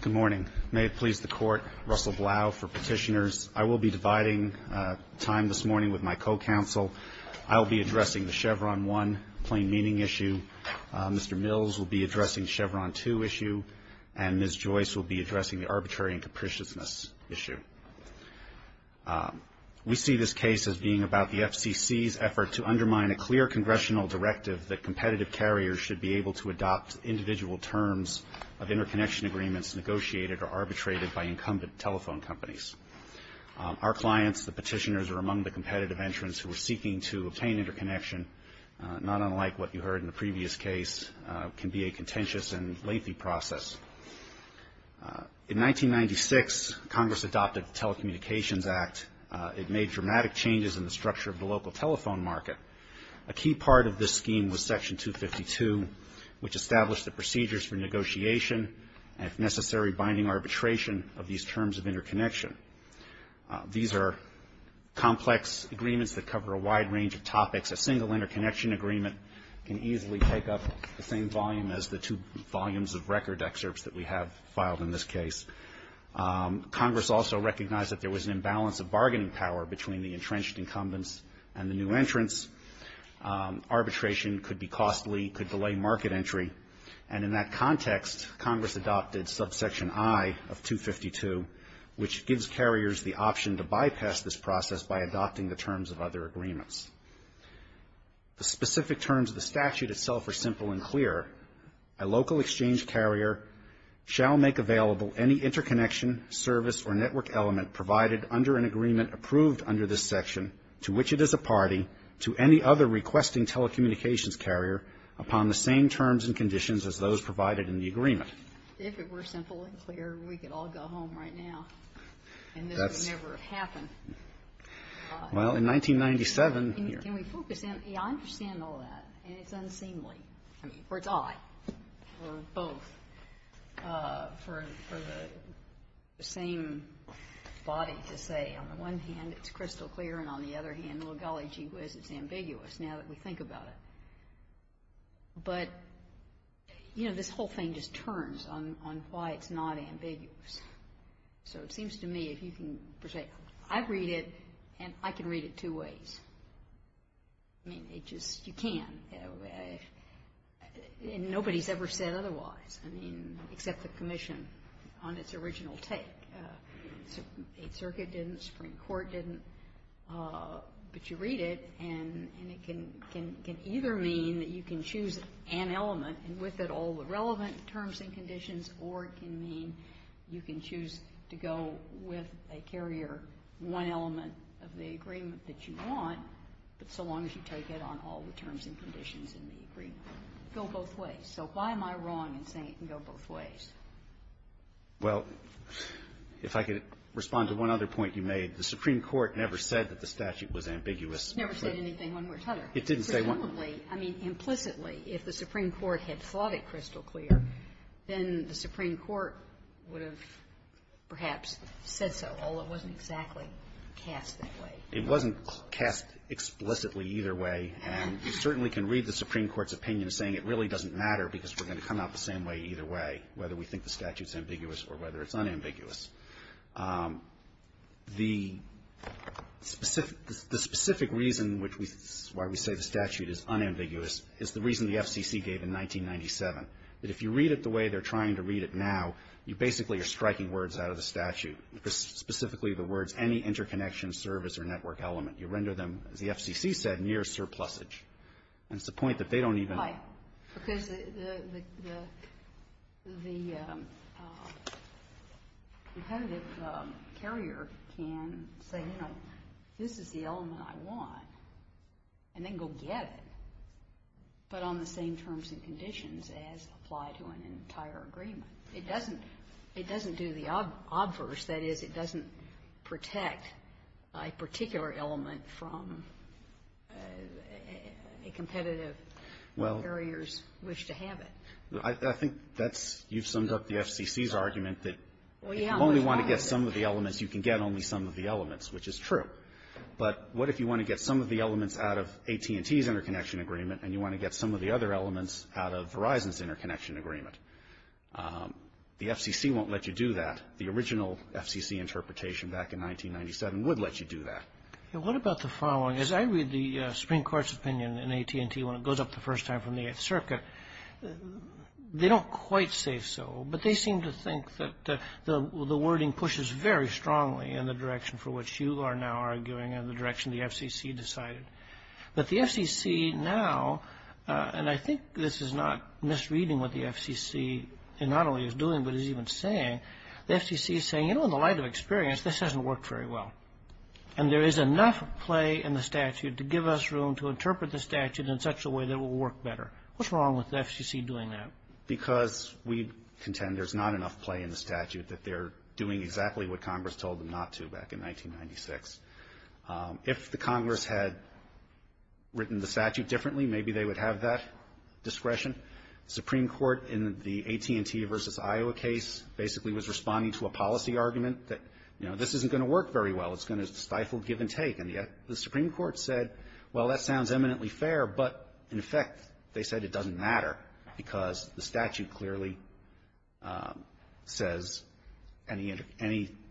Good morning. May it please the Court, Russell Blau for Petitioners. I will be dividing time this morning with my co-counsel. I will be addressing the Chevron 1 plain meaning issue, Mr. Mills will be addressing Chevron 2 issue, and Ms. Joyce will be addressing the arbitrary and capriciousness issue. We see this case as being about the FCC's effort to undermine a clear congressional directive that competitive carriers should be able to adopt individual terms of interconnection agreements negotiated or arbitrated by incumbent telephone companies. Our clients, the petitioners, are among the competitive entrants who are seeking to obtain interconnection, not unlike what you heard in the previous case, can be a contentious and lengthy process. In 1996, Congress adopted the Telecommunications Act. It made dramatic changes in the structure of the local telephone market. A key part of this scheme was Section 252, which established the procedures for negotiation and, if necessary, binding arbitration of these terms of interconnection. These are complex agreements that cover a wide range of topics. A single interconnection agreement can easily take up the same volume as the two volumes of record excerpts that we have filed in this case. Congress also recognized that there was an imbalance of bargaining power between the entrenched incumbents and the new entrants. Arbitration could be costly, could delay market entry, and in that context, Congress adopted Subsection I of 252, which gives carriers the option to bypass this process by adopting the terms of other agreements. The specific terms of the statute itself are simple and clear. A local exchange carrier shall make available any interconnection, service, or network element provided under an agreement approved under this section to which it is a party, to any other requesting telecommunications carrier, upon the same terms and conditions as those provided in the agreement. If it were simple and clear, we could all go home right now. And this would never have happened. Well, in 1997 here Can we focus in? Yeah, I understand all that. And it's unseemly. I mean, or it's I. Or both. For the same body to say, on the one hand, it's crystal clear, and on the other hand, oh golly gee whiz, it's ambiguous now that we think about it. But, you know, this whole thing just turns on why it's not ambiguous. So it seems to me if you can say, I read it, and I can read it two ways. I mean, it just, you can. And nobody's ever said otherwise. I mean, except the Commission on its original take. Eight Circuit didn't. Supreme Court didn't. But you read it, and it can either mean that you can choose an element, and with it all the relevant terms and conditions, or it can mean you can choose to go with a carrier, one element of the agreement that you want, but so long as you take it on all the terms and conditions in the agreement. Go both ways. So why am I wrong in saying it can go both ways? Well, if I could respond to one other point you made, the Supreme Court never said that the statute was ambiguous. It never said anything one way or the other. It didn't say one. Presumably, I mean, implicitly, if the Supreme Court had thought it crystal clear, then the Supreme Court would have perhaps said so, although it wasn't exactly cast that way. It wasn't cast explicitly either way. And you certainly can read the Supreme Court's opinion saying it really doesn't matter because we're going to come out the same way either way, whether we think the statute's ambiguous or whether it's unambiguous. The specific reason which we say the statute is unambiguous is the reason the FCC gave in 1997, that if you read it the way they're trying to read it now, you basically are striking words out of the statute, specifically the words, any interconnection service or network element. You render them, as the FCC said, near surplusage. And it's the point that they don't even know. Right. Because the competitive carrier can say, you know, this is the element I want, and then go get it, but on the same terms and conditions as apply to an entire agreement. It doesn't do the obverse. That is, it doesn't protect a particular element from a competitive carrier's wish to have it. Well, I think that's you've summed up the FCC's argument that if you only want to get some of the elements, you can get only some of the elements, which is true. But what if you want to get some of the elements out of AT&T's interconnection agreement, and you want to get some of the other elements out of Verizon's The FCC won't let you do that. The original FCC interpretation back in 1997 would let you do that. What about the following? As I read the Supreme Court's opinion in AT&T when it goes up the first time from the Eighth Circuit, they don't quite say so, but they seem to think that the wording pushes very strongly in the direction for which you are now arguing and the direction the FCC decided. But the FCC now, and I think this is not misreading what the FCC not only is doing, but is even saying, the FCC is saying, you know, in the light of experience, this hasn't worked very well. And there is enough play in the statute to give us room to interpret the statute in such a way that it will work better. What's wrong with the FCC doing that? Because we contend there's not enough play in the statute that they're doing exactly what Congress told them not to back in 1996. If the Congress had written the statute differently, maybe they would have that discretion. The Supreme Court in the AT&T v. Iowa case basically was responding to a policy argument that, you know, this isn't going to work very well. It's going to stifle give and take. And yet the Supreme Court said, well, that sounds eminently fair, but in effect, they said it doesn't matter because the statute clearly says any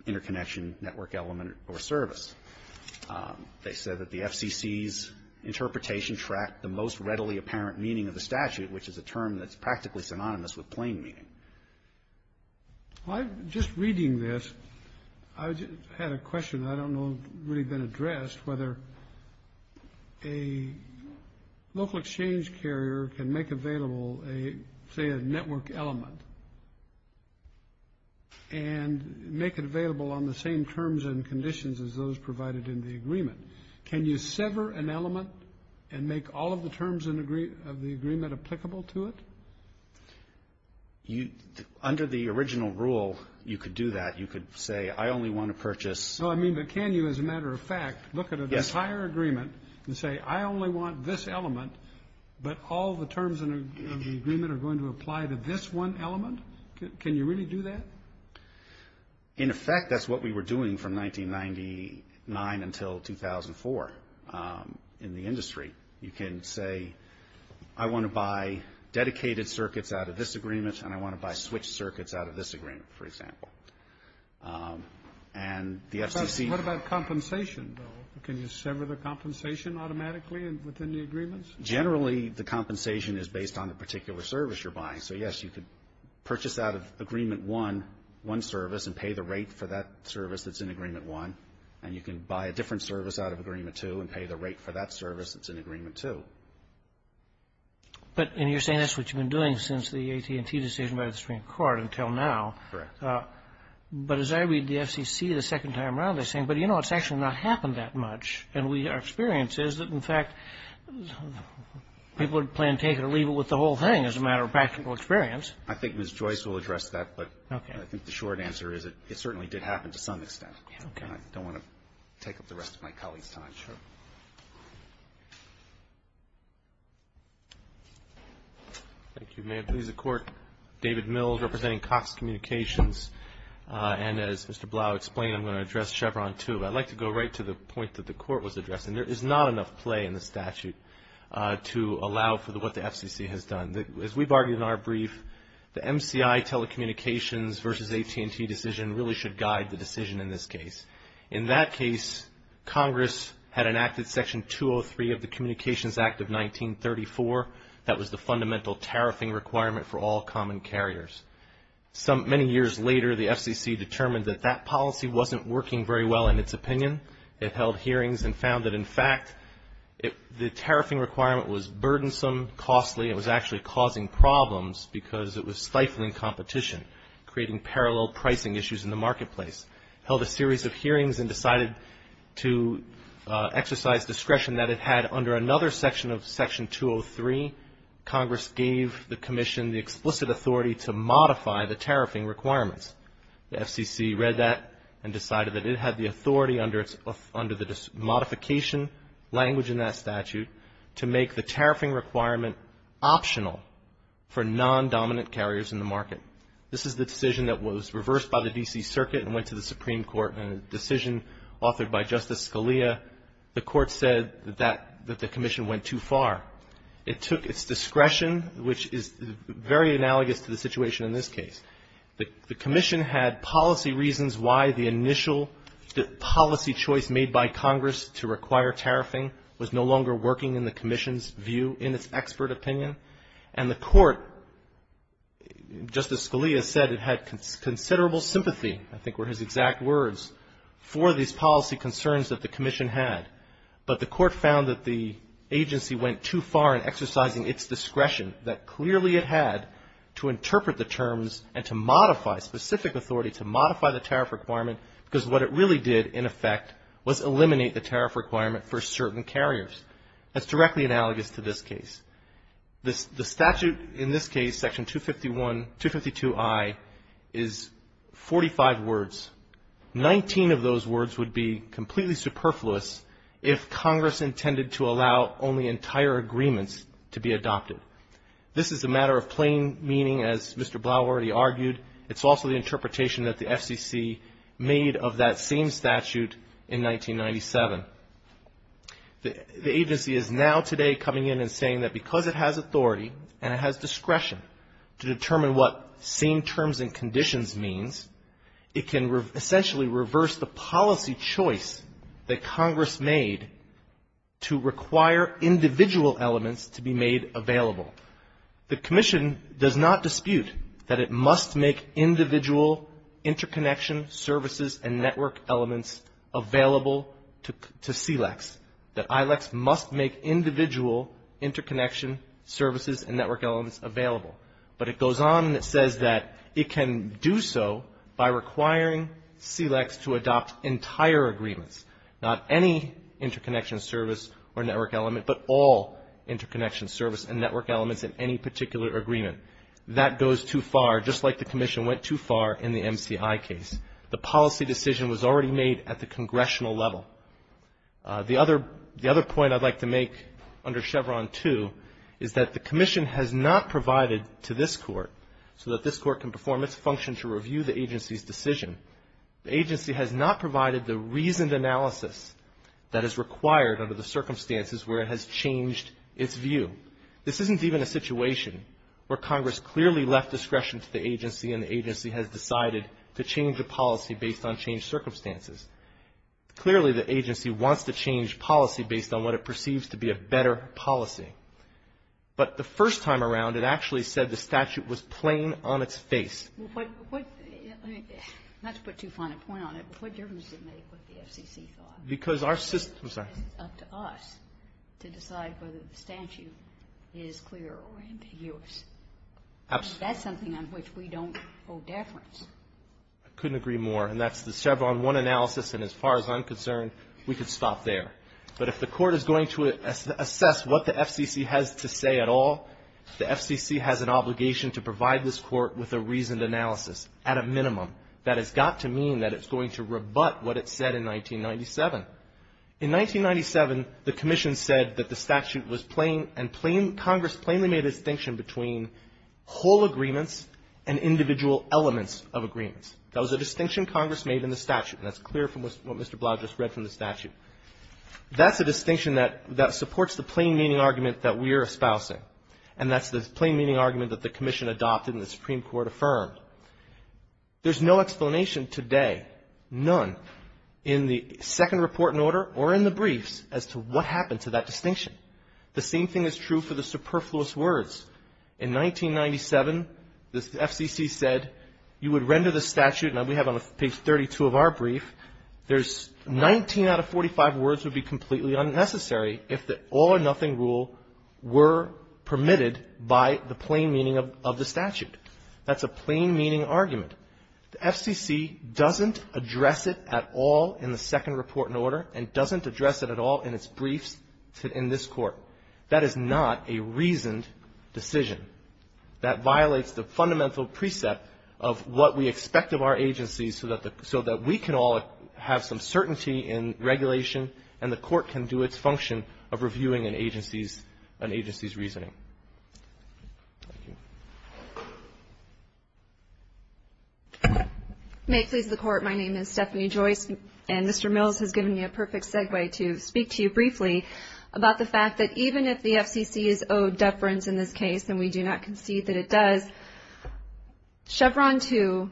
interconnection, network element, or service. They said that the FCC's interpretation tracked the most readily apparent meaning of the statute, which is a term that's practically synonymous with plain meaning. Well, just reading this, I had a question that I don't know has really been addressed, whether a local exchange carrier can make available, say, a network element and make it available on the same terms and conditions as those provided in the agreement. Can you sever an element and make all of the terms of the agreement applicable to it? Under the original rule, you could do that. You could say, I only want to purchase No, I mean, but can you, as a matter of fact, look at an entire agreement and say, I only want this element, but all the terms of the agreement are going to apply to this one element? Can you really do that? In effect, that's what we were doing from 1999 until 2004 in the industry. You can say, I want to buy dedicated circuits out of this agreement, and I want to buy switched circuits out of this agreement, for example. And the FCC What about compensation, though? Can you sever the compensation automatically within the agreements? Generally, the compensation is based on the particular service you're buying. So, yes, you could purchase out of Agreement 1 one service and pay the rate for that service that's in Agreement 1. And you can buy a different service out of Agreement 2 and pay the rate for that service that's in Agreement 2. But you're saying that's what you've been doing since the AT&T decision by the Supreme Court until now. Correct. But as I read the FCC the second time around, they're saying, but, you know, it's actually not happened that much. And our experience is that, in fact, people would plan to take it or leave it with the whole thing as a matter of practical experience. I think Ms. Joyce will address that. But I think the short answer is it certainly did happen to some extent. I don't want to take up the rest of my colleagues' time. Sure. Thank you. May it please the Court, David Mills representing Cox Communications. And as Mr. Blau explained, I'm going to address Chevron 2. I'd like to go right to the point that the Court was addressing. There is not enough play in the statute to allow for what the FCC has done. As we've argued in our brief, the MCI telecommunications versus AT&T decision really should guide the decision in this case. In that case, Congress had enacted Section 203 of the Communications Act of 1934. That was the fundamental tariffing requirement for all common carriers. Many years later, the FCC determined that that policy wasn't working very well in its opinion. It held hearings and found that, in fact, the tariffing requirement was burdensome, costly. It was actually causing problems because it was stifling competition, creating parallel pricing issues in the marketplace. It held a series of hearings and decided to exercise discretion that it had under another section of Section 203. Congress gave the Commission the explicit authority to modify the tariffing requirements. The FCC read that and decided that it had the authority under the modification language in that statute to make the tariffing requirement optional for non-dominant carriers in the market. This is the decision that was reversed by the D.C. Circuit and went to the Supreme Court in a decision authored by Justice Scalia. The Court said that the Commission went too far. It took its discretion, which is very analogous to the situation in this case. The Commission had policy reasons why the initial policy choice made by Congress to require tariffing was no longer working in the Commission's view, in its expert opinion. And the Court, Justice Scalia said it had considerable sympathy, I think were his exact words, for these policy concerns that the Commission had, but the Court found that the agency went too far in exercising its discretion that clearly it had to interpret the terms and to modify specific authority to modify the tariff requirement because what it really did, in effect, was eliminate the tariff requirement for certain carriers. That's directly analogous to this case. The statute in this case, Section 252I, is 45 words. Nineteen of those words would be completely superfluous if Congress intended to be adopted. This is a matter of plain meaning, as Mr. Blau already argued. It's also the interpretation that the FCC made of that same statute in 1997. The agency is now today coming in and saying that because it has authority and it has discretion to determine what same terms and conditions means, it can essentially reverse the policy choice that Congress made to require individual elements to be made available. The Commission does not dispute that it must make individual interconnection services and network elements available to SEALEX, that ILEX must make individual interconnection services and network elements available. But it goes on and it says that it can do so by requiring SEALEX to adopt entire agreements, not any interconnection service or network element, but all interconnection service and network elements in any particular agreement. That goes too far, just like the Commission went too far in the MCI case. The policy decision was already made at the congressional level. The other point I'd like to make under Chevron 2 is that the Commission has not provided to this Court so that this Court can perform its function to review the agency's decision. The agency has not provided the reasoned analysis that is required under the circumstances where it has changed its view. This isn't even a situation where Congress clearly left discretion to the agency and the agency has decided to change the policy based on changed circumstances. Clearly, the agency wants to change policy based on what it perceives to be a better policy. But the first time around, it actually said the statute was plain on its face. Kagan. Well, let's put too fine a point on it. What difference does it make what the FCC thought? Because our system is up to us to decide whether the statute is clear or ambiguous. Absolutely. That's something on which we don't hold deference. I couldn't agree more. And that's the Chevron 1 analysis. And as far as I'm concerned, we could stop there. But if the Court is going to assess what the FCC has to say at all, the FCC has an obligation to provide a reasoned analysis at a minimum that has got to mean that it's going to rebut what it said in 1997. In 1997, the Commission said that the statute was plain and plain ‑‑ Congress plainly made a distinction between whole agreements and individual elements of agreements. That was a distinction Congress made in the statute. And that's clear from what Mr. Blau just read from the statute. That's a distinction that supports the plain-meaning argument that we are espousing. And that's the plain-meaning argument that the Commission adopted and the Supreme Court affirmed. There's no explanation today, none, in the second report in order or in the briefs as to what happened to that distinction. The same thing is true for the superfluous words. In 1997, the FCC said you would render the statute, and we have it on page 32 of our brief, there's 19 out of 45 words would be completely unnecessary if the all-or-nothing rule were permitted by the plain meaning of the statute. That's a plain-meaning argument. The FCC doesn't address it at all in the second report in order and doesn't address it at all in its briefs in this Court. That is not a reasoned decision. That violates the fundamental precept of what we expect of our agencies so that we can all have some certainty in regulation and the Court can do its function of reviewing an agency's reasoning. Thank you. May it please the Court, my name is Stephanie Joyce, and Mr. Mills has given me a perfect segue to speak to you briefly about the fact that even if the FCC is owed deference in this case, and we do not concede that it does, Chevron II,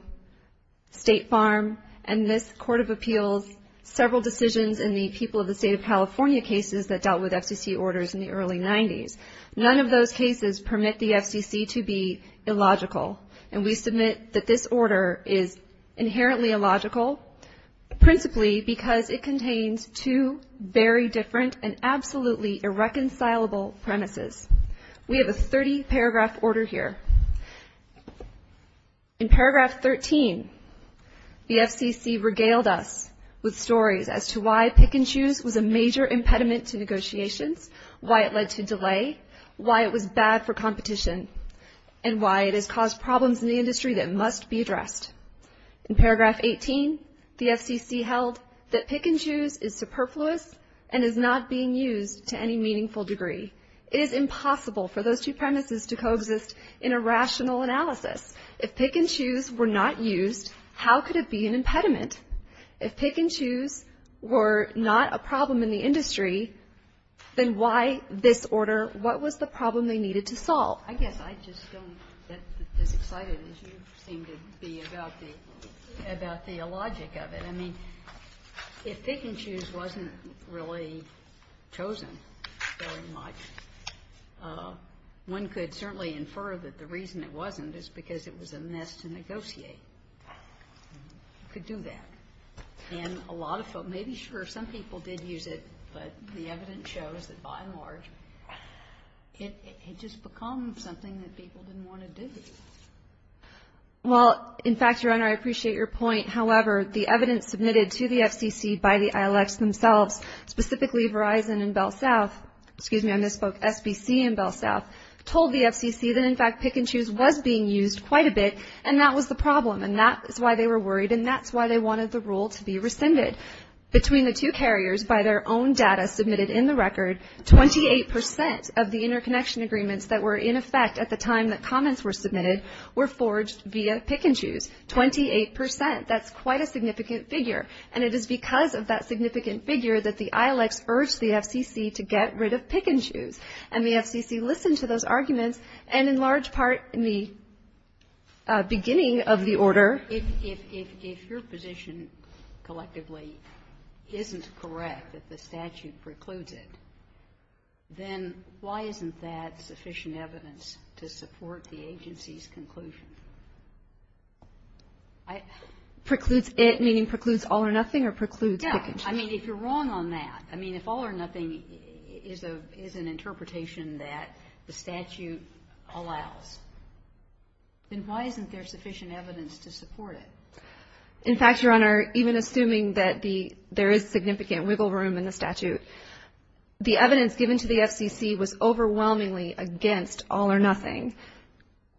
State Farm, and this Court of Appeals, several decisions in the people of the State of California cases that dealt with FCC orders in the early 90s, none of those cases permit the FCC to be illogical. And we submit that this order is inherently illogical, principally because it contains two very different and absolutely irreconcilable premises. We have a 30-paragraph order here. In paragraph 13, the FCC regaled us with stories as to why pick-and-choose was a major impediment to negotiations, why it led to delay, why it was bad for competition, and why it has caused problems in the industry that must be addressed. In paragraph 18, the FCC held that pick-and-choose is superfluous and is not being used to any meaningful degree. It is impossible for those two premises to coexist in a rational analysis. If pick-and-choose were not used, how could it be an impediment? If pick-and-choose were not a problem in the industry, then why this order? What was the problem they needed to solve? Well, I guess I just don't get as excited as you seem to be about the logic of it. I mean, if pick-and-choose wasn't really chosen very much, one could certainly infer that the reason it wasn't is because it was a mess to negotiate. You could do that. And a lot of folks, maybe, sure, some people did use it, but the evidence shows that, by and large, it just becomes something that people didn't want to do. Well, in fact, Your Honor, I appreciate your point. However, the evidence submitted to the FCC by the ILX themselves, specifically Verizon and BellSouth, excuse me, I misspoke, SBC and BellSouth, told the FCC that, in fact, pick-and-choose was being used quite a bit, and that was the problem, and that is why they were worried, and that's why they wanted the rule to be rescinded. Between the two carriers, by their own data submitted in the record, 28 percent of the interconnection agreements that were in effect at the time that comments were submitted were forged via pick-and-choose, 28 percent. That's quite a significant figure. And it is because of that significant figure that the ILX urged the FCC to get rid of pick-and-choose, and the FCC listened to those arguments, and in large part, in the beginning of the order. Kagan. If your position collectively isn't correct, that the statute precludes it, then why isn't that sufficient evidence to support the agency's conclusion? Precludes it, meaning precludes all or nothing, or precludes pick-and-choose? Yes. I mean, if you're wrong on that, I mean, if all or nothing is an interpretation that the statute allows, then why isn't there sufficient evidence to support it? In fact, Your Honor, even assuming that there is significant wiggle room in the statute, the evidence given to the FCC was overwhelmingly against all or nothing.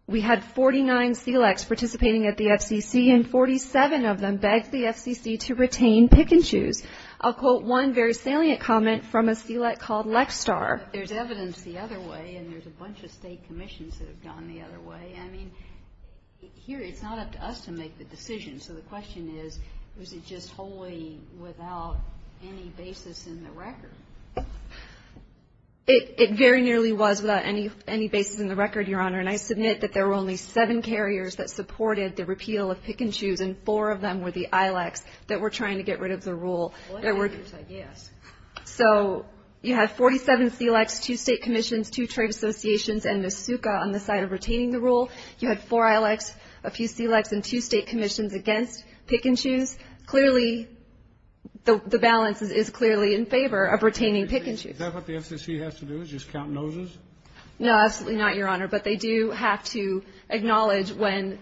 We had 49 SELEX participating at the FCC, and 47 of them begged the FCC to retain pick-and-choose. I'll quote one very salient comment from a SELEX called Lexstar. There's evidence the other way, and there's a bunch of state commissions that have gone the other way. I mean, here it's not up to us to make the decision, so the question is, was it just wholly without any basis in the record? It very nearly was without any basis in the record, Your Honor, and I submit that there were only seven carriers that supported the repeal of pick-and-choose, and four of them were the ILACs that were trying to get rid of the rule. Select carriers, I guess. So you have 47 SELEX, two state commissions, two trade associations, and MSUCA on the side of retaining the rule. You had four ILACs, a few SELEX, and two state commissions against pick-and-choose. Clearly, the balance is clearly in favor of retaining pick-and-choose. Is that what the FCC has to do, is just count noses? No, absolutely not, Your Honor. But they do have to acknowledge when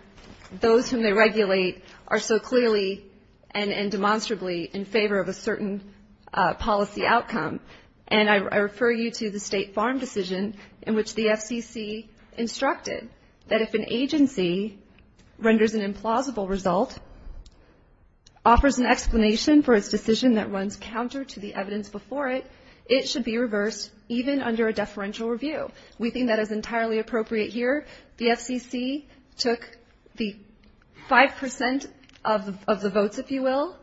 those whom they regulate are so clearly and demonstrably in favor of a certain policy outcome. And I refer you to the State Farm decision in which the FCC instructed that if an agency renders an implausible result, offers an explanation for its decision that runs counter to the evidence before it, it should be reversed even under a deferential review. We think that is entirely appropriate here. The FCC took the 5 percent of the votes, if you will,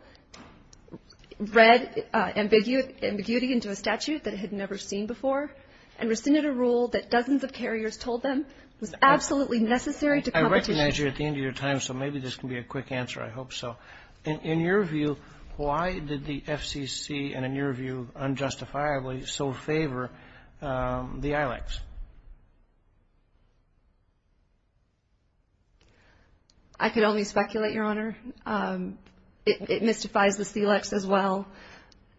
read ambiguity into a statute that it had never seen before, and rescinded a rule that dozens of carriers told them was absolutely necessary to competition. I recognize you're at the end of your time, so maybe this can be a quick answer. I hope so. In your view, why did the FCC, and in your view unjustifiably, so favor the ILEX? I could only speculate, Your Honor. It mystifies the SELEX as well,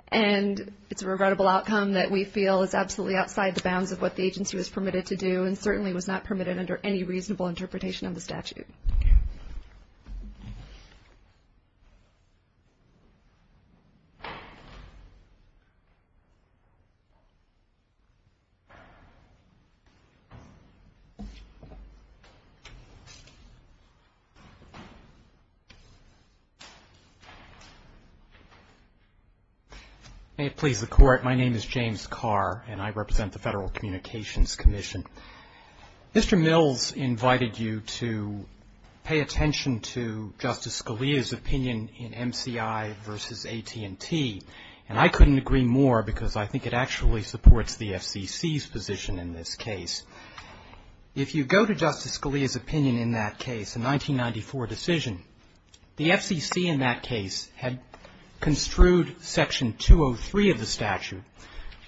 and it's a regrettable outcome that we feel is absolutely outside the bounds of what the agency was permitted to do and certainly was not permitted under any reasonable interpretation of the statute. Thank you. May it please the Court, my name is James Carr, and I represent the Federal Communications Commission. Mr. Mills invited you to pay attention to Justice Scalia's opinion in MCI v. AT&T, and I couldn't agree more because I think it actually supports the FCC's position in this case. If you go to Justice Scalia's opinion in that case, the 1994 decision, the FCC in that case had construed Section 203 of the statute,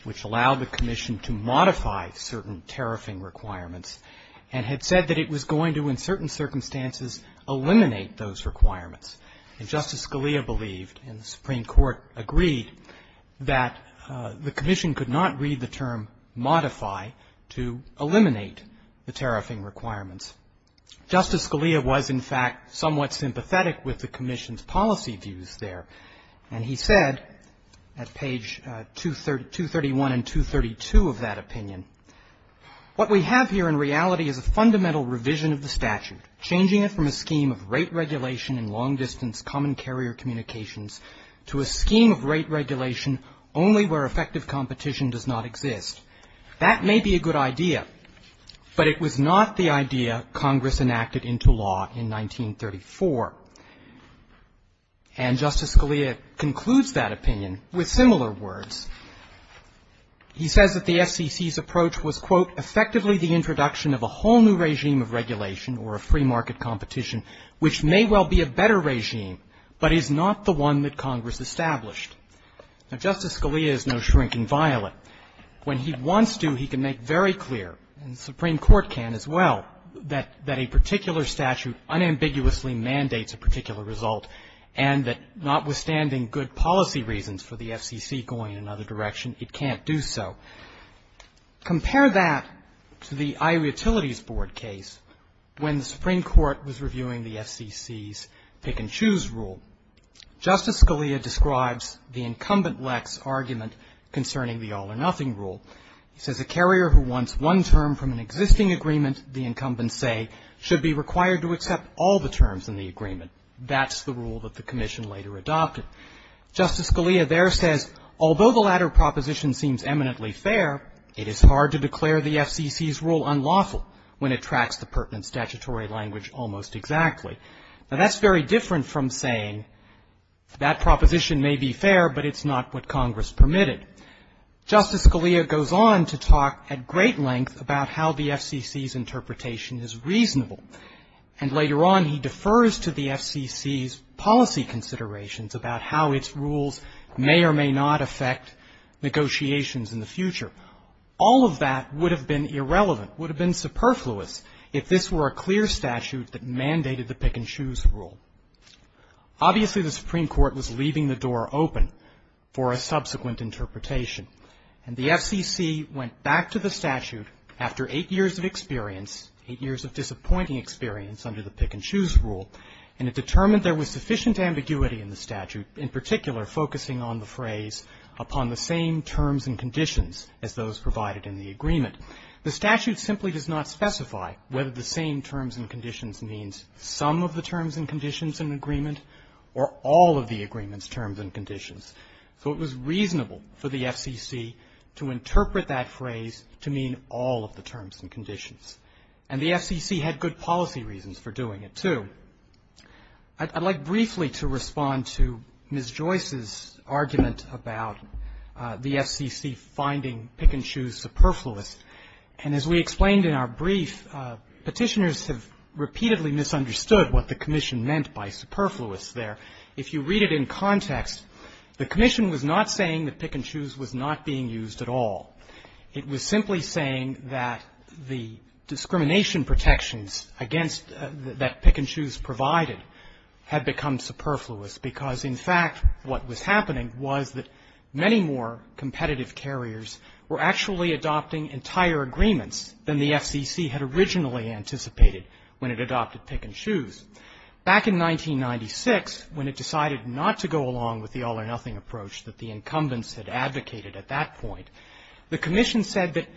which allowed the Commission to modify certain tariffing requirements, and had said that it was going to, in certain circumstances, eliminate those requirements. And Justice Scalia believed, and the Supreme Court agreed, that the Commission could not read the term modify to eliminate the tariffing requirements. Justice Scalia was, in fact, somewhat sympathetic with the Commission's policy views there, and he said at page 231 and 232 of that opinion, what we have here in reality is a fundamental revision of the statute, changing it from a scheme of rate regulation in long-distance common carrier communications to a scheme of rate regulation only where effective competition does not exist. That may be a good idea, but it was not the idea Congress enacted into law in 1934. And Justice Scalia concludes that opinion with similar words. He says that the FCC's approach was, quote, effectively the introduction of a whole new regime of regulation or a free market competition, which may well be a better regime, but is not the one that Congress established. Now, Justice Scalia is no shrinking violet. When he wants to, he can make very clear, and the Supreme Court can as well, that a particular statute unambiguously mandates a particular result, and that notwithstanding good policy reasons for the FCC going in another direction, it can't do so. Compare that to the Iowa Utilities Board case when the Supreme Court was reviewing the FCC's pick-and-choose rule. Justice Scalia describes the incumbent lex argument concerning the all-or-nothing rule. He says a carrier who wants one term from an existing agreement, the incumbents say, should be required to accept all the terms in the agreement. That's the rule that the Commission later adopted. Justice Scalia there says, although the latter proposition seems eminently fair, it is hard to declare the FCC's rule unlawful when it tracks the pertinent statutory language almost exactly. Now, that's very different from saying that proposition may be fair, but it's not what Congress permitted. Justice Scalia goes on to talk at great length about how the FCC's interpretation is reasonable. And later on, he defers to the FCC's policy considerations about how its rules may or may not affect negotiations in the future. All of that would have been irrelevant, would have been superfluous if this were a clear statute that mandated the pick-and-choose rule. Obviously, the Supreme Court was leaving the door open for a subsequent interpretation. And the FCC went back to the statute after eight years of experience, eight years of disappointing experience under the pick-and-choose rule, and it determined there was sufficient ambiguity in the statute, in particular focusing on the phrase upon the same terms and conditions as those provided in the agreement. The statute simply does not specify whether the same terms and conditions means some of the terms and conditions in the agreement or all of the agreement's terms and conditions. So it was reasonable for the FCC to interpret that phrase to mean all of the terms and conditions. And the FCC had good policy reasons for doing it, too. I'd like briefly to respond to Ms. Joyce's argument about the FCC finding pick-and-choose superfluous. And as we explained in our brief, Petitioners have repeatedly misunderstood what the Commission meant by superfluous there. If you read it in context, the Commission was not saying that pick-and-choose was not being used at all. It was simply saying that the discrimination protections against that pick-and-choose provided had become superfluous because, in fact, what was happening was that many more competitive carriers were actually adopting entire agreements than the FCC had originally anticipated when it adopted pick-and-choose. Back in 1996, when it decided not to go along with the all-or-nothing approach that the incumbents had advocated at that point, the Commission said that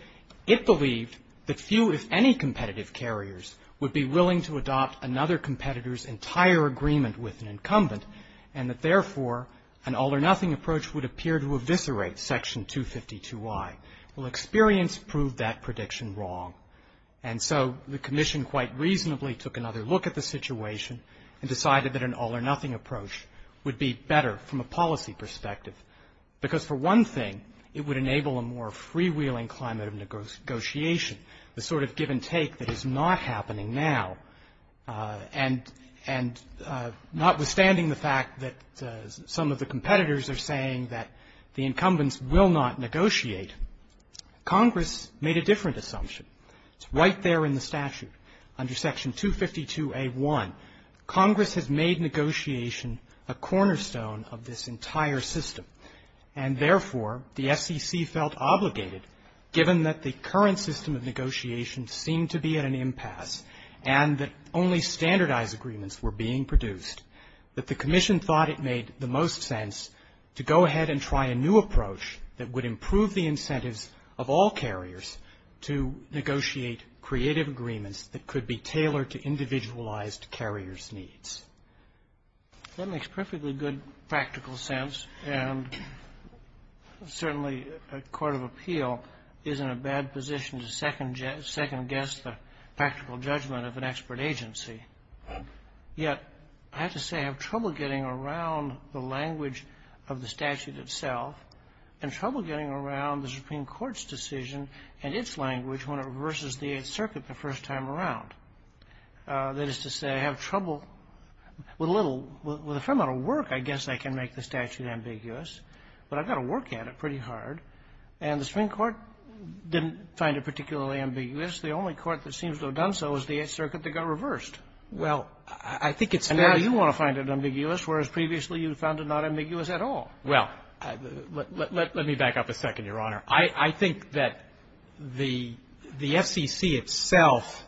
it believed that few, if any, competitive carriers would be willing to adopt another competitor's entire agreement with an incumbent, and that, therefore, an all-or-nothing approach would appear to eviscerate Section 252I. Well, experience proved that prediction wrong. And so the Commission quite reasonably took another look at the situation and decided that an all-or-nothing approach would be better from a policy perspective. Because, for one thing, it would enable a more freewheeling climate of negotiation, the sort of give-and-take that is not happening now. And notwithstanding the fact that some of the competitors are saying that the incumbents will not negotiate, Congress made a different assumption. It's right there in the statute under Section 252A1. Congress has made negotiation a cornerstone of this entire system. And, therefore, the SEC felt obligated, given that the current system of negotiation seemed to be at an impasse and that only standardized agreements were being produced, that the Commission thought it made the most sense to go ahead and try a new approach that would improve the incentives of all carriers to negotiate creative agreements that could be tailored to individualized carriers' needs. That makes perfectly good practical sense. And, certainly, a court of appeal is in a bad position to second-guess the practical judgment of an expert agency. Yet I have to say I have trouble getting around the language of the statute itself and trouble getting around the Supreme Court's decision and its language when it reverses the Eighth Circuit the first time around. That is to say, I have trouble with a little, with a fair amount of work, I guess I can make the statute ambiguous. But I've got to work at it pretty hard. And the Supreme Court didn't find it particularly ambiguous. The only court that seems to have done so is the Eighth Circuit that got reversed. Well, I think it's fair to say you want to find it ambiguous, whereas previously you found it not ambiguous at all. Well, let me back up a second, Your Honor. I think that the FCC itself,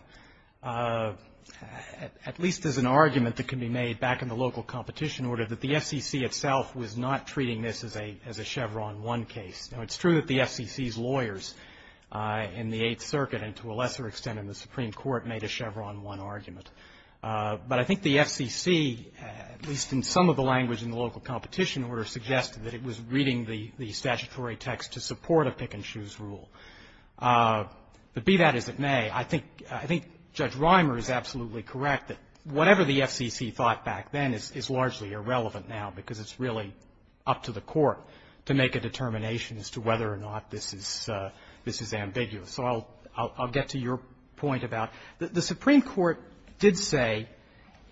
at least as an argument that can be made back in the local competition order, that the FCC itself was not treating this as a Chevron 1 case. Now, it's true that the FCC's lawyers in the Eighth Circuit and to a lesser extent in the Supreme Court made a Chevron 1 argument. But I think the FCC, at least in some of the language in the local competition order, suggested that it was reading the statutory text to support a pick-and-choose rule. But be that as it may, I think Judge Rimer is absolutely correct that whatever the FCC thought back then is largely irrelevant now because it's really up to the Court to make a determination as to whether or not this is ambiguous. So I'll get to your point about the Supreme Court did say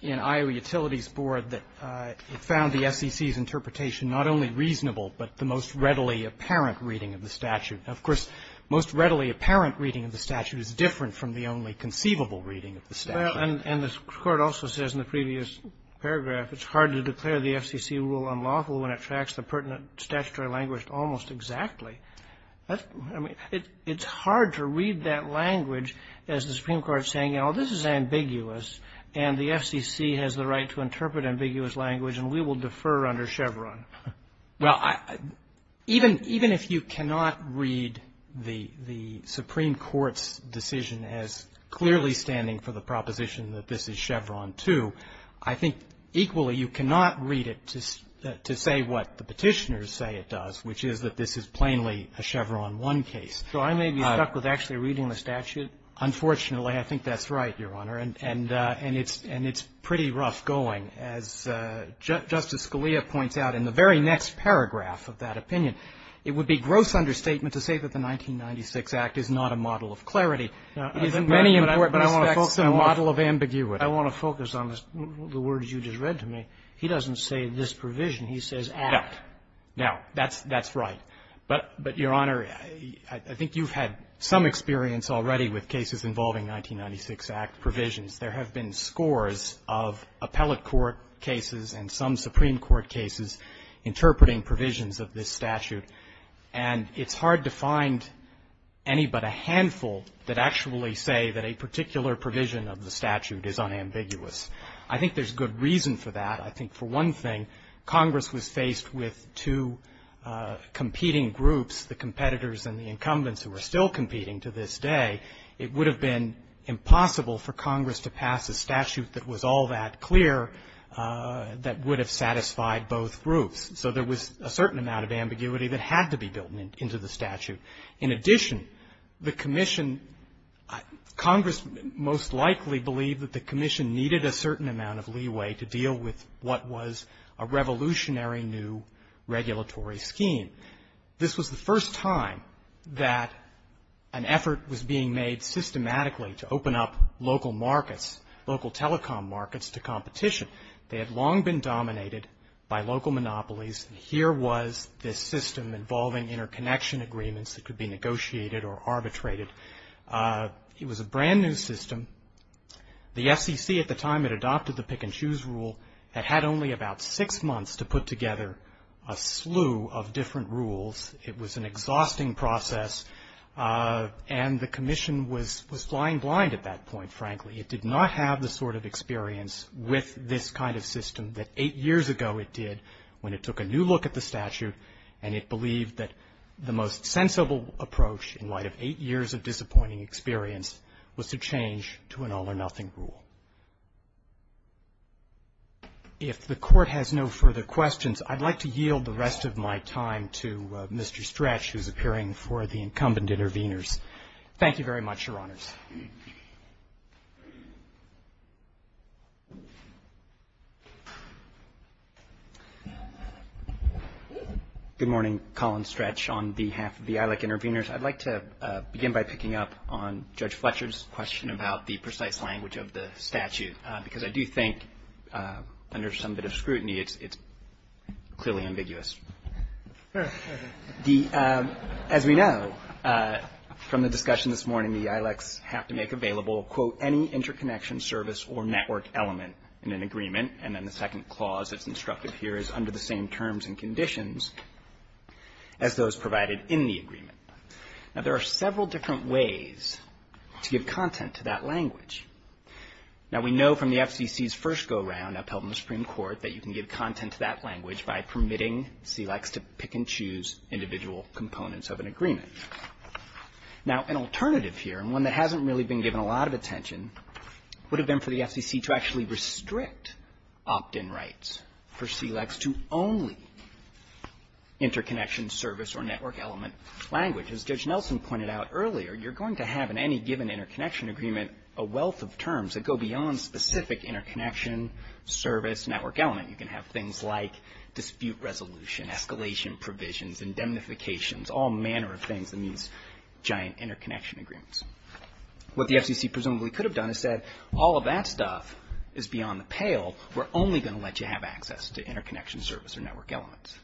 in Iowa Utilities Board that it found the FCC's interpretation not only reasonable but the most readily apparent reading of the statute. Now, of course, most readily apparent reading of the statute is different from the only conceivable reading of the statute. Well, and the Court also says in the previous paragraph, it's hard to declare the FCC rule unlawful when it tracks the pertinent statutory language almost exactly. I mean, it's hard to read that language as the Supreme Court saying, you know, this is ambiguous and the FCC has the right to interpret ambiguous language and we will defer under Chevron. Well, even if you cannot read the Supreme Court's decision as clearly standing for the proposition that this is Chevron 2, I think equally you cannot read it to say what the Petitioners say it does, which is that this is plainly a Chevron 1 case. So I may be stuck with actually reading the statute? Unfortunately, I think that's right, Your Honor. And it's pretty rough going. As Justice Scalia points out in the very next paragraph of that opinion, it would be gross understatement to say that the 1996 Act is not a model of clarity. It's many important aspects and a model of ambiguity. I want to focus on the words you just read to me. He doesn't say this provision. He says Act. Now, that's right. But, Your Honor, I think you've had some experience already with cases involving 1996 Act provisions. There have been scores of appellate court cases and some Supreme Court cases interpreting provisions of this statute, and it's hard to find any but a handful that actually say that a particular provision of the statute is unambiguous. I think there's good reason for that. I think for one thing, Congress was faced with two competing groups, the competitors and the incumbents who are still competing to this day. It would have been impossible for Congress to pass a statute that was all that clear that would have satisfied both groups. So there was a certain amount of ambiguity that had to be built into the statute. In addition, the commission – Congress most likely believed that the commission needed a certain amount of leeway to deal with what was a revolutionary new regulatory scheme. This was the first time that an effort was being made systematically to open up local markets, local telecom markets to competition. They had long been dominated by local monopolies, and here was this system involving interconnection agreements that could be negotiated or arbitrated. It was a brand-new system. The FCC at the time that adopted the pick-and-choose rule had had only about six months to put together a slew of different rules. It was an exhausting process, and the commission was flying blind at that point, frankly. It did not have the sort of experience with this kind of system that eight years ago it did when it took a new look at the statute, and it believed that the most sensible approach in light of eight years of disappointing experience was to change to an all-or-nothing rule. If the Court has no further questions, I'd like to yield the rest of my time to Mr. Stretch, who's appearing for the incumbent intervenors. Thank you very much, Your Honors. Good morning. Colin Stretch on behalf of the ILAC intervenors. I'd like to begin by picking up on Judge Fletcher's question about the precise language of the statute, because I do think under some bit of scrutiny it's clearly ambiguous. As we know from the discussion this morning, the ILACs have to make available, quote, any interconnection, service, or network element in an agreement, and then the second clause that's instructed here is under the same terms and conditions as those provided in the agreement. Now, there are several different ways to give content to that language. Now, we know from the FCC's first go-round upheld in the Supreme Court that you can give individual components of an agreement. Now, an alternative here, and one that hasn't really been given a lot of attention, would have been for the FCC to actually restrict opt-in rights for CLECs to only interconnection, service, or network element language. As Judge Nelson pointed out earlier, you're going to have in any given interconnection agreement a wealth of terms that go beyond specific interconnection, service, network element. You can have things like dispute resolution, escalation provisions, indemnifications, all manner of things that means giant interconnection agreements. What the FCC presumably could have done is said, all of that stuff is beyond the pale. We're only going to let you have access to interconnection, service, or network elements.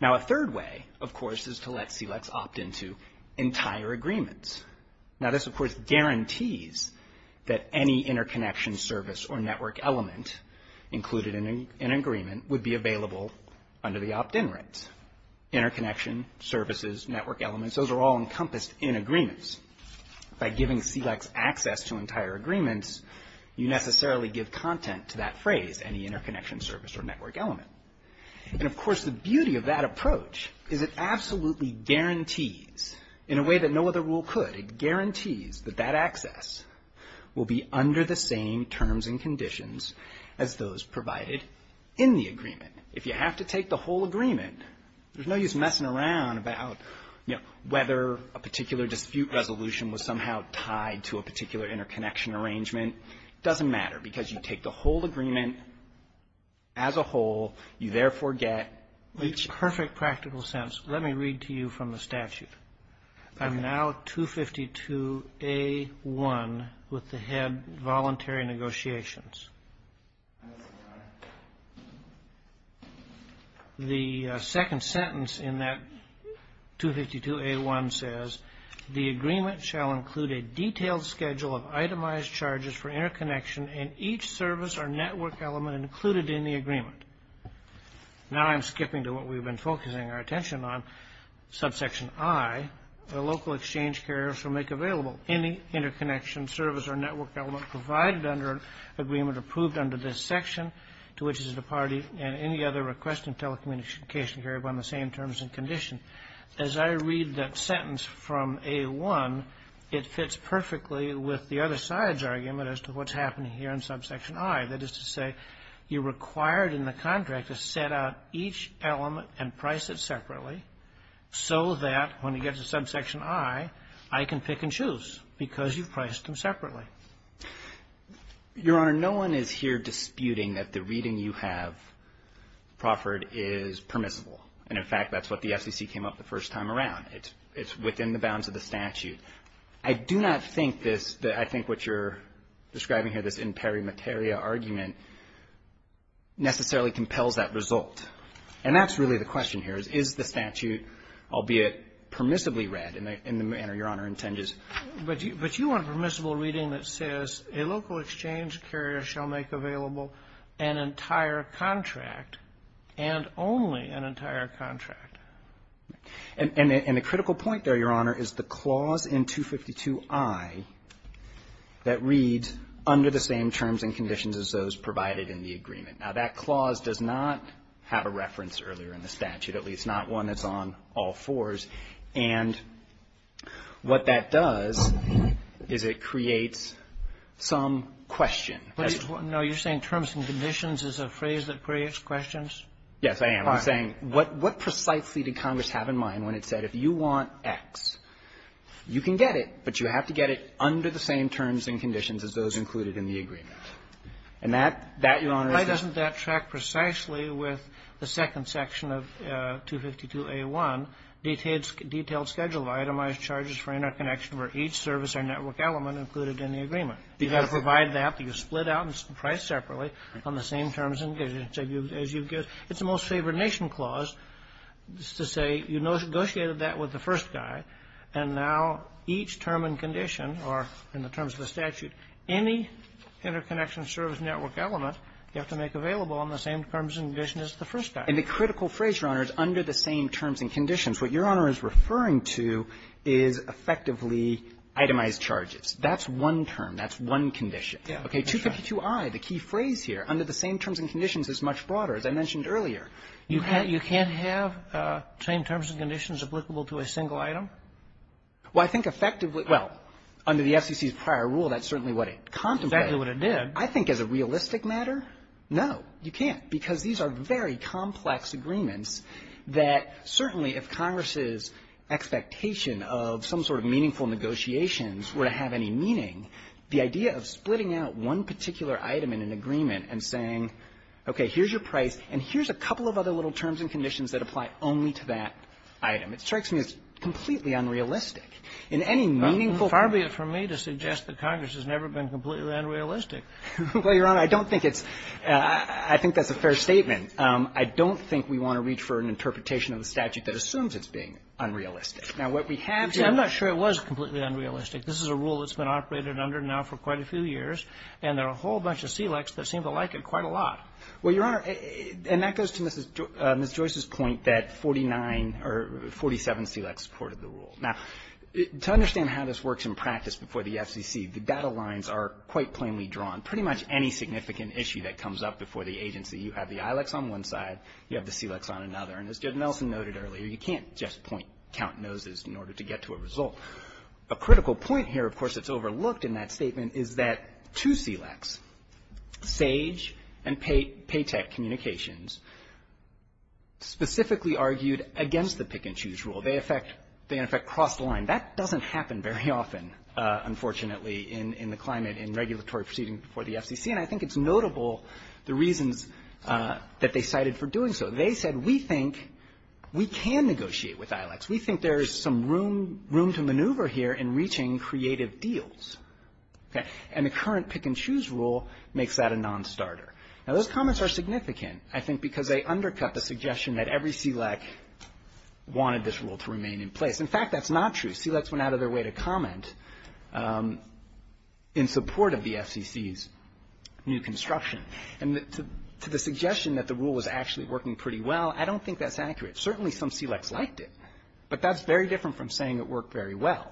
Now, a third way, of course, is to let CLECs opt into entire agreements. Now, this, of course, guarantees that any interconnection, service, or network element included in an agreement would be available under the opt-in rights. Interconnection, services, network elements, those are all encompassed in agreements. By giving CLECs access to entire agreements, you necessarily give content to that phrase, any interconnection, service, or network element. And, of course, the beauty of that approach is it absolutely guarantees in a way that no other rule could. It guarantees that that access will be under the same terms and conditions as those provided in the agreement. If you have to take the whole agreement, there's no use messing around about, you know, whether a particular dispute resolution was somehow tied to a particular interconnection arrangement. It doesn't matter because you take the whole agreement as a whole. You, therefore, get each. In a perfect practical sense, let me read to you from the statute. I'm now at 252A1 with the head, Voluntary Negotiations. The second sentence in that 252A1 says, The agreement shall include a detailed schedule of itemized charges for interconnection and each service or network element included in the agreement. Now I'm skipping to what we've been focusing our attention on. Subsection I, the local exchange carriers shall make available any interconnection, service, or network element provided under agreement approved under this section to which is the party and any other request in telecommunication carried upon the same terms and conditions. As I read that sentence from A1, it fits perfectly with the other side's argument as to what's happening here in subsection I. That is to say, you're required in the contract to set out each element and price it separately so that when it gets to subsection I, I can pick and choose because you've priced them separately. Your Honor, no one is here disputing that the reading you have proffered is permissible. And, in fact, that's what the SEC came up the first time around. It's within the bounds of the statute. I do not think this, I think what you're describing here, this imperimetaria argument, necessarily compels that result. And that's really the question here is, is the statute, albeit permissibly read in the manner Your Honor intends? But you want permissible reading that says a local exchange carrier shall make available an entire contract and only an entire contract. And the critical point there, Your Honor, is the clause in 252i that reads, under the same terms and conditions as those provided in the agreement. Now, that clause does not have a reference earlier in the statute, at least not one that's on all fours. And what that does is it creates some question. No, you're saying terms and conditions is a phrase that creates questions? Yes, I am. I'm saying, what precisely did Congress have in mind when it said if you want X, you can get it, but you have to get it under the same terms and conditions as those included in the agreement? And that, Your Honor, is the question? Why doesn't that track precisely with the second section of 252a1, detailed schedule, itemized charges for interconnection for each service or network element included in the agreement? You've got to provide that, that you split out and price separately on the same terms and conditions as you've given. It's a most favored nation clause to say you negotiated that with the first guy, and now each term and condition are, in the terms of the statute, any interconnection service network element you have to make available on the same terms and conditions as the first guy. And the critical phrase, Your Honor, is under the same terms and conditions. What Your Honor is referring to is effectively itemized charges. That's one term. That's one condition. Okay. 252i, the key phrase here, under the same terms and conditions is much broader, as I mentioned earlier. You can't have same terms and conditions applicable to a single item? Well, I think effectively, well, under the FCC's prior rule, that's certainly what it contemplated. Exactly what it did. I think as a realistic matter, no, you can't, because these are very complex agreements that certainly if Congress's expectation of some sort of meaningful negotiations were to have any meaning, the idea of splitting out one particular item in an agreement and saying, okay, here's your price, and here's a couple of other little terms and conditions that apply only to that item, it strikes me as completely unrealistic. In any meaningful ---- Far be it from me to suggest that Congress has never been completely unrealistic. Well, Your Honor, I don't think it's ---- I think that's a fair statement. I don't think we want to reach for an interpretation of the statute that assumes it's being unrealistic. Now, what we have here ---- You see, I'm not sure it was completely unrealistic. This is a rule that's been operated under now for quite a few years, and there are a whole bunch of SELEX that seem to like it quite a lot. Well, Your Honor, and that goes to Ms. Joyce's point that 49 or 47 SELEX supported the rule. Now, to understand how this works in practice before the FCC, the data lines are quite plainly drawn. Pretty much any significant issue that comes up before the agency, you have the ILEX on one side, you have the SELEX on another. And as Judge Nelson noted earlier, you can't just point, count noses in order to get to a result. A critical point here, of course, that's overlooked in that statement is that two SELEX, SAGE and Paytech Communications, specifically argued against the pick-and-choose rule. They, in effect, crossed the line. That doesn't happen very often, unfortunately, in the climate in regulatory proceedings before the FCC. And I think it's notable, the reasons that they cited for doing so. They said, we think we can negotiate with ILEX. We think there's some room to maneuver here in reaching creative deals. Okay. And the current pick-and-choose rule makes that a nonstarter. Now, those comments are significant, I think, because they undercut the suggestion that every SELEC wanted this rule to remain in place. In fact, that's not true. SELEX went out of their way to comment in support of the FCC's new construction. And to the suggestion that the rule was actually working pretty well, I don't think that's accurate. Certainly some SELEX liked it, but that's very different from saying it worked very well.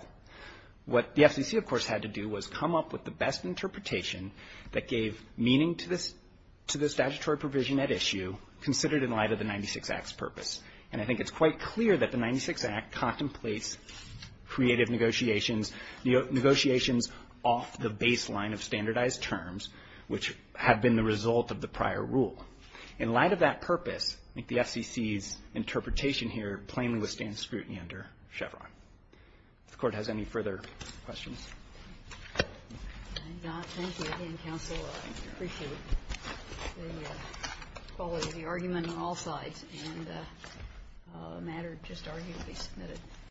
What the FCC, of course, had to do was come up with the best interpretation that gave meaning to this statutory provision at issue, considered in light of the 96 Act's purpose. And I think it's quite clear that the 96 Act contemplates creative negotiations, negotiations off the baseline of standardized terms, which have been the result of the prior rule. In light of that purpose, I think the FCC's interpretation here plainly withstands scrutiny under Chevron. If the Court has any further questions. Thank you. Again, counsel, I appreciate the quality of the argument on all sides, and the matter just arguably submitted.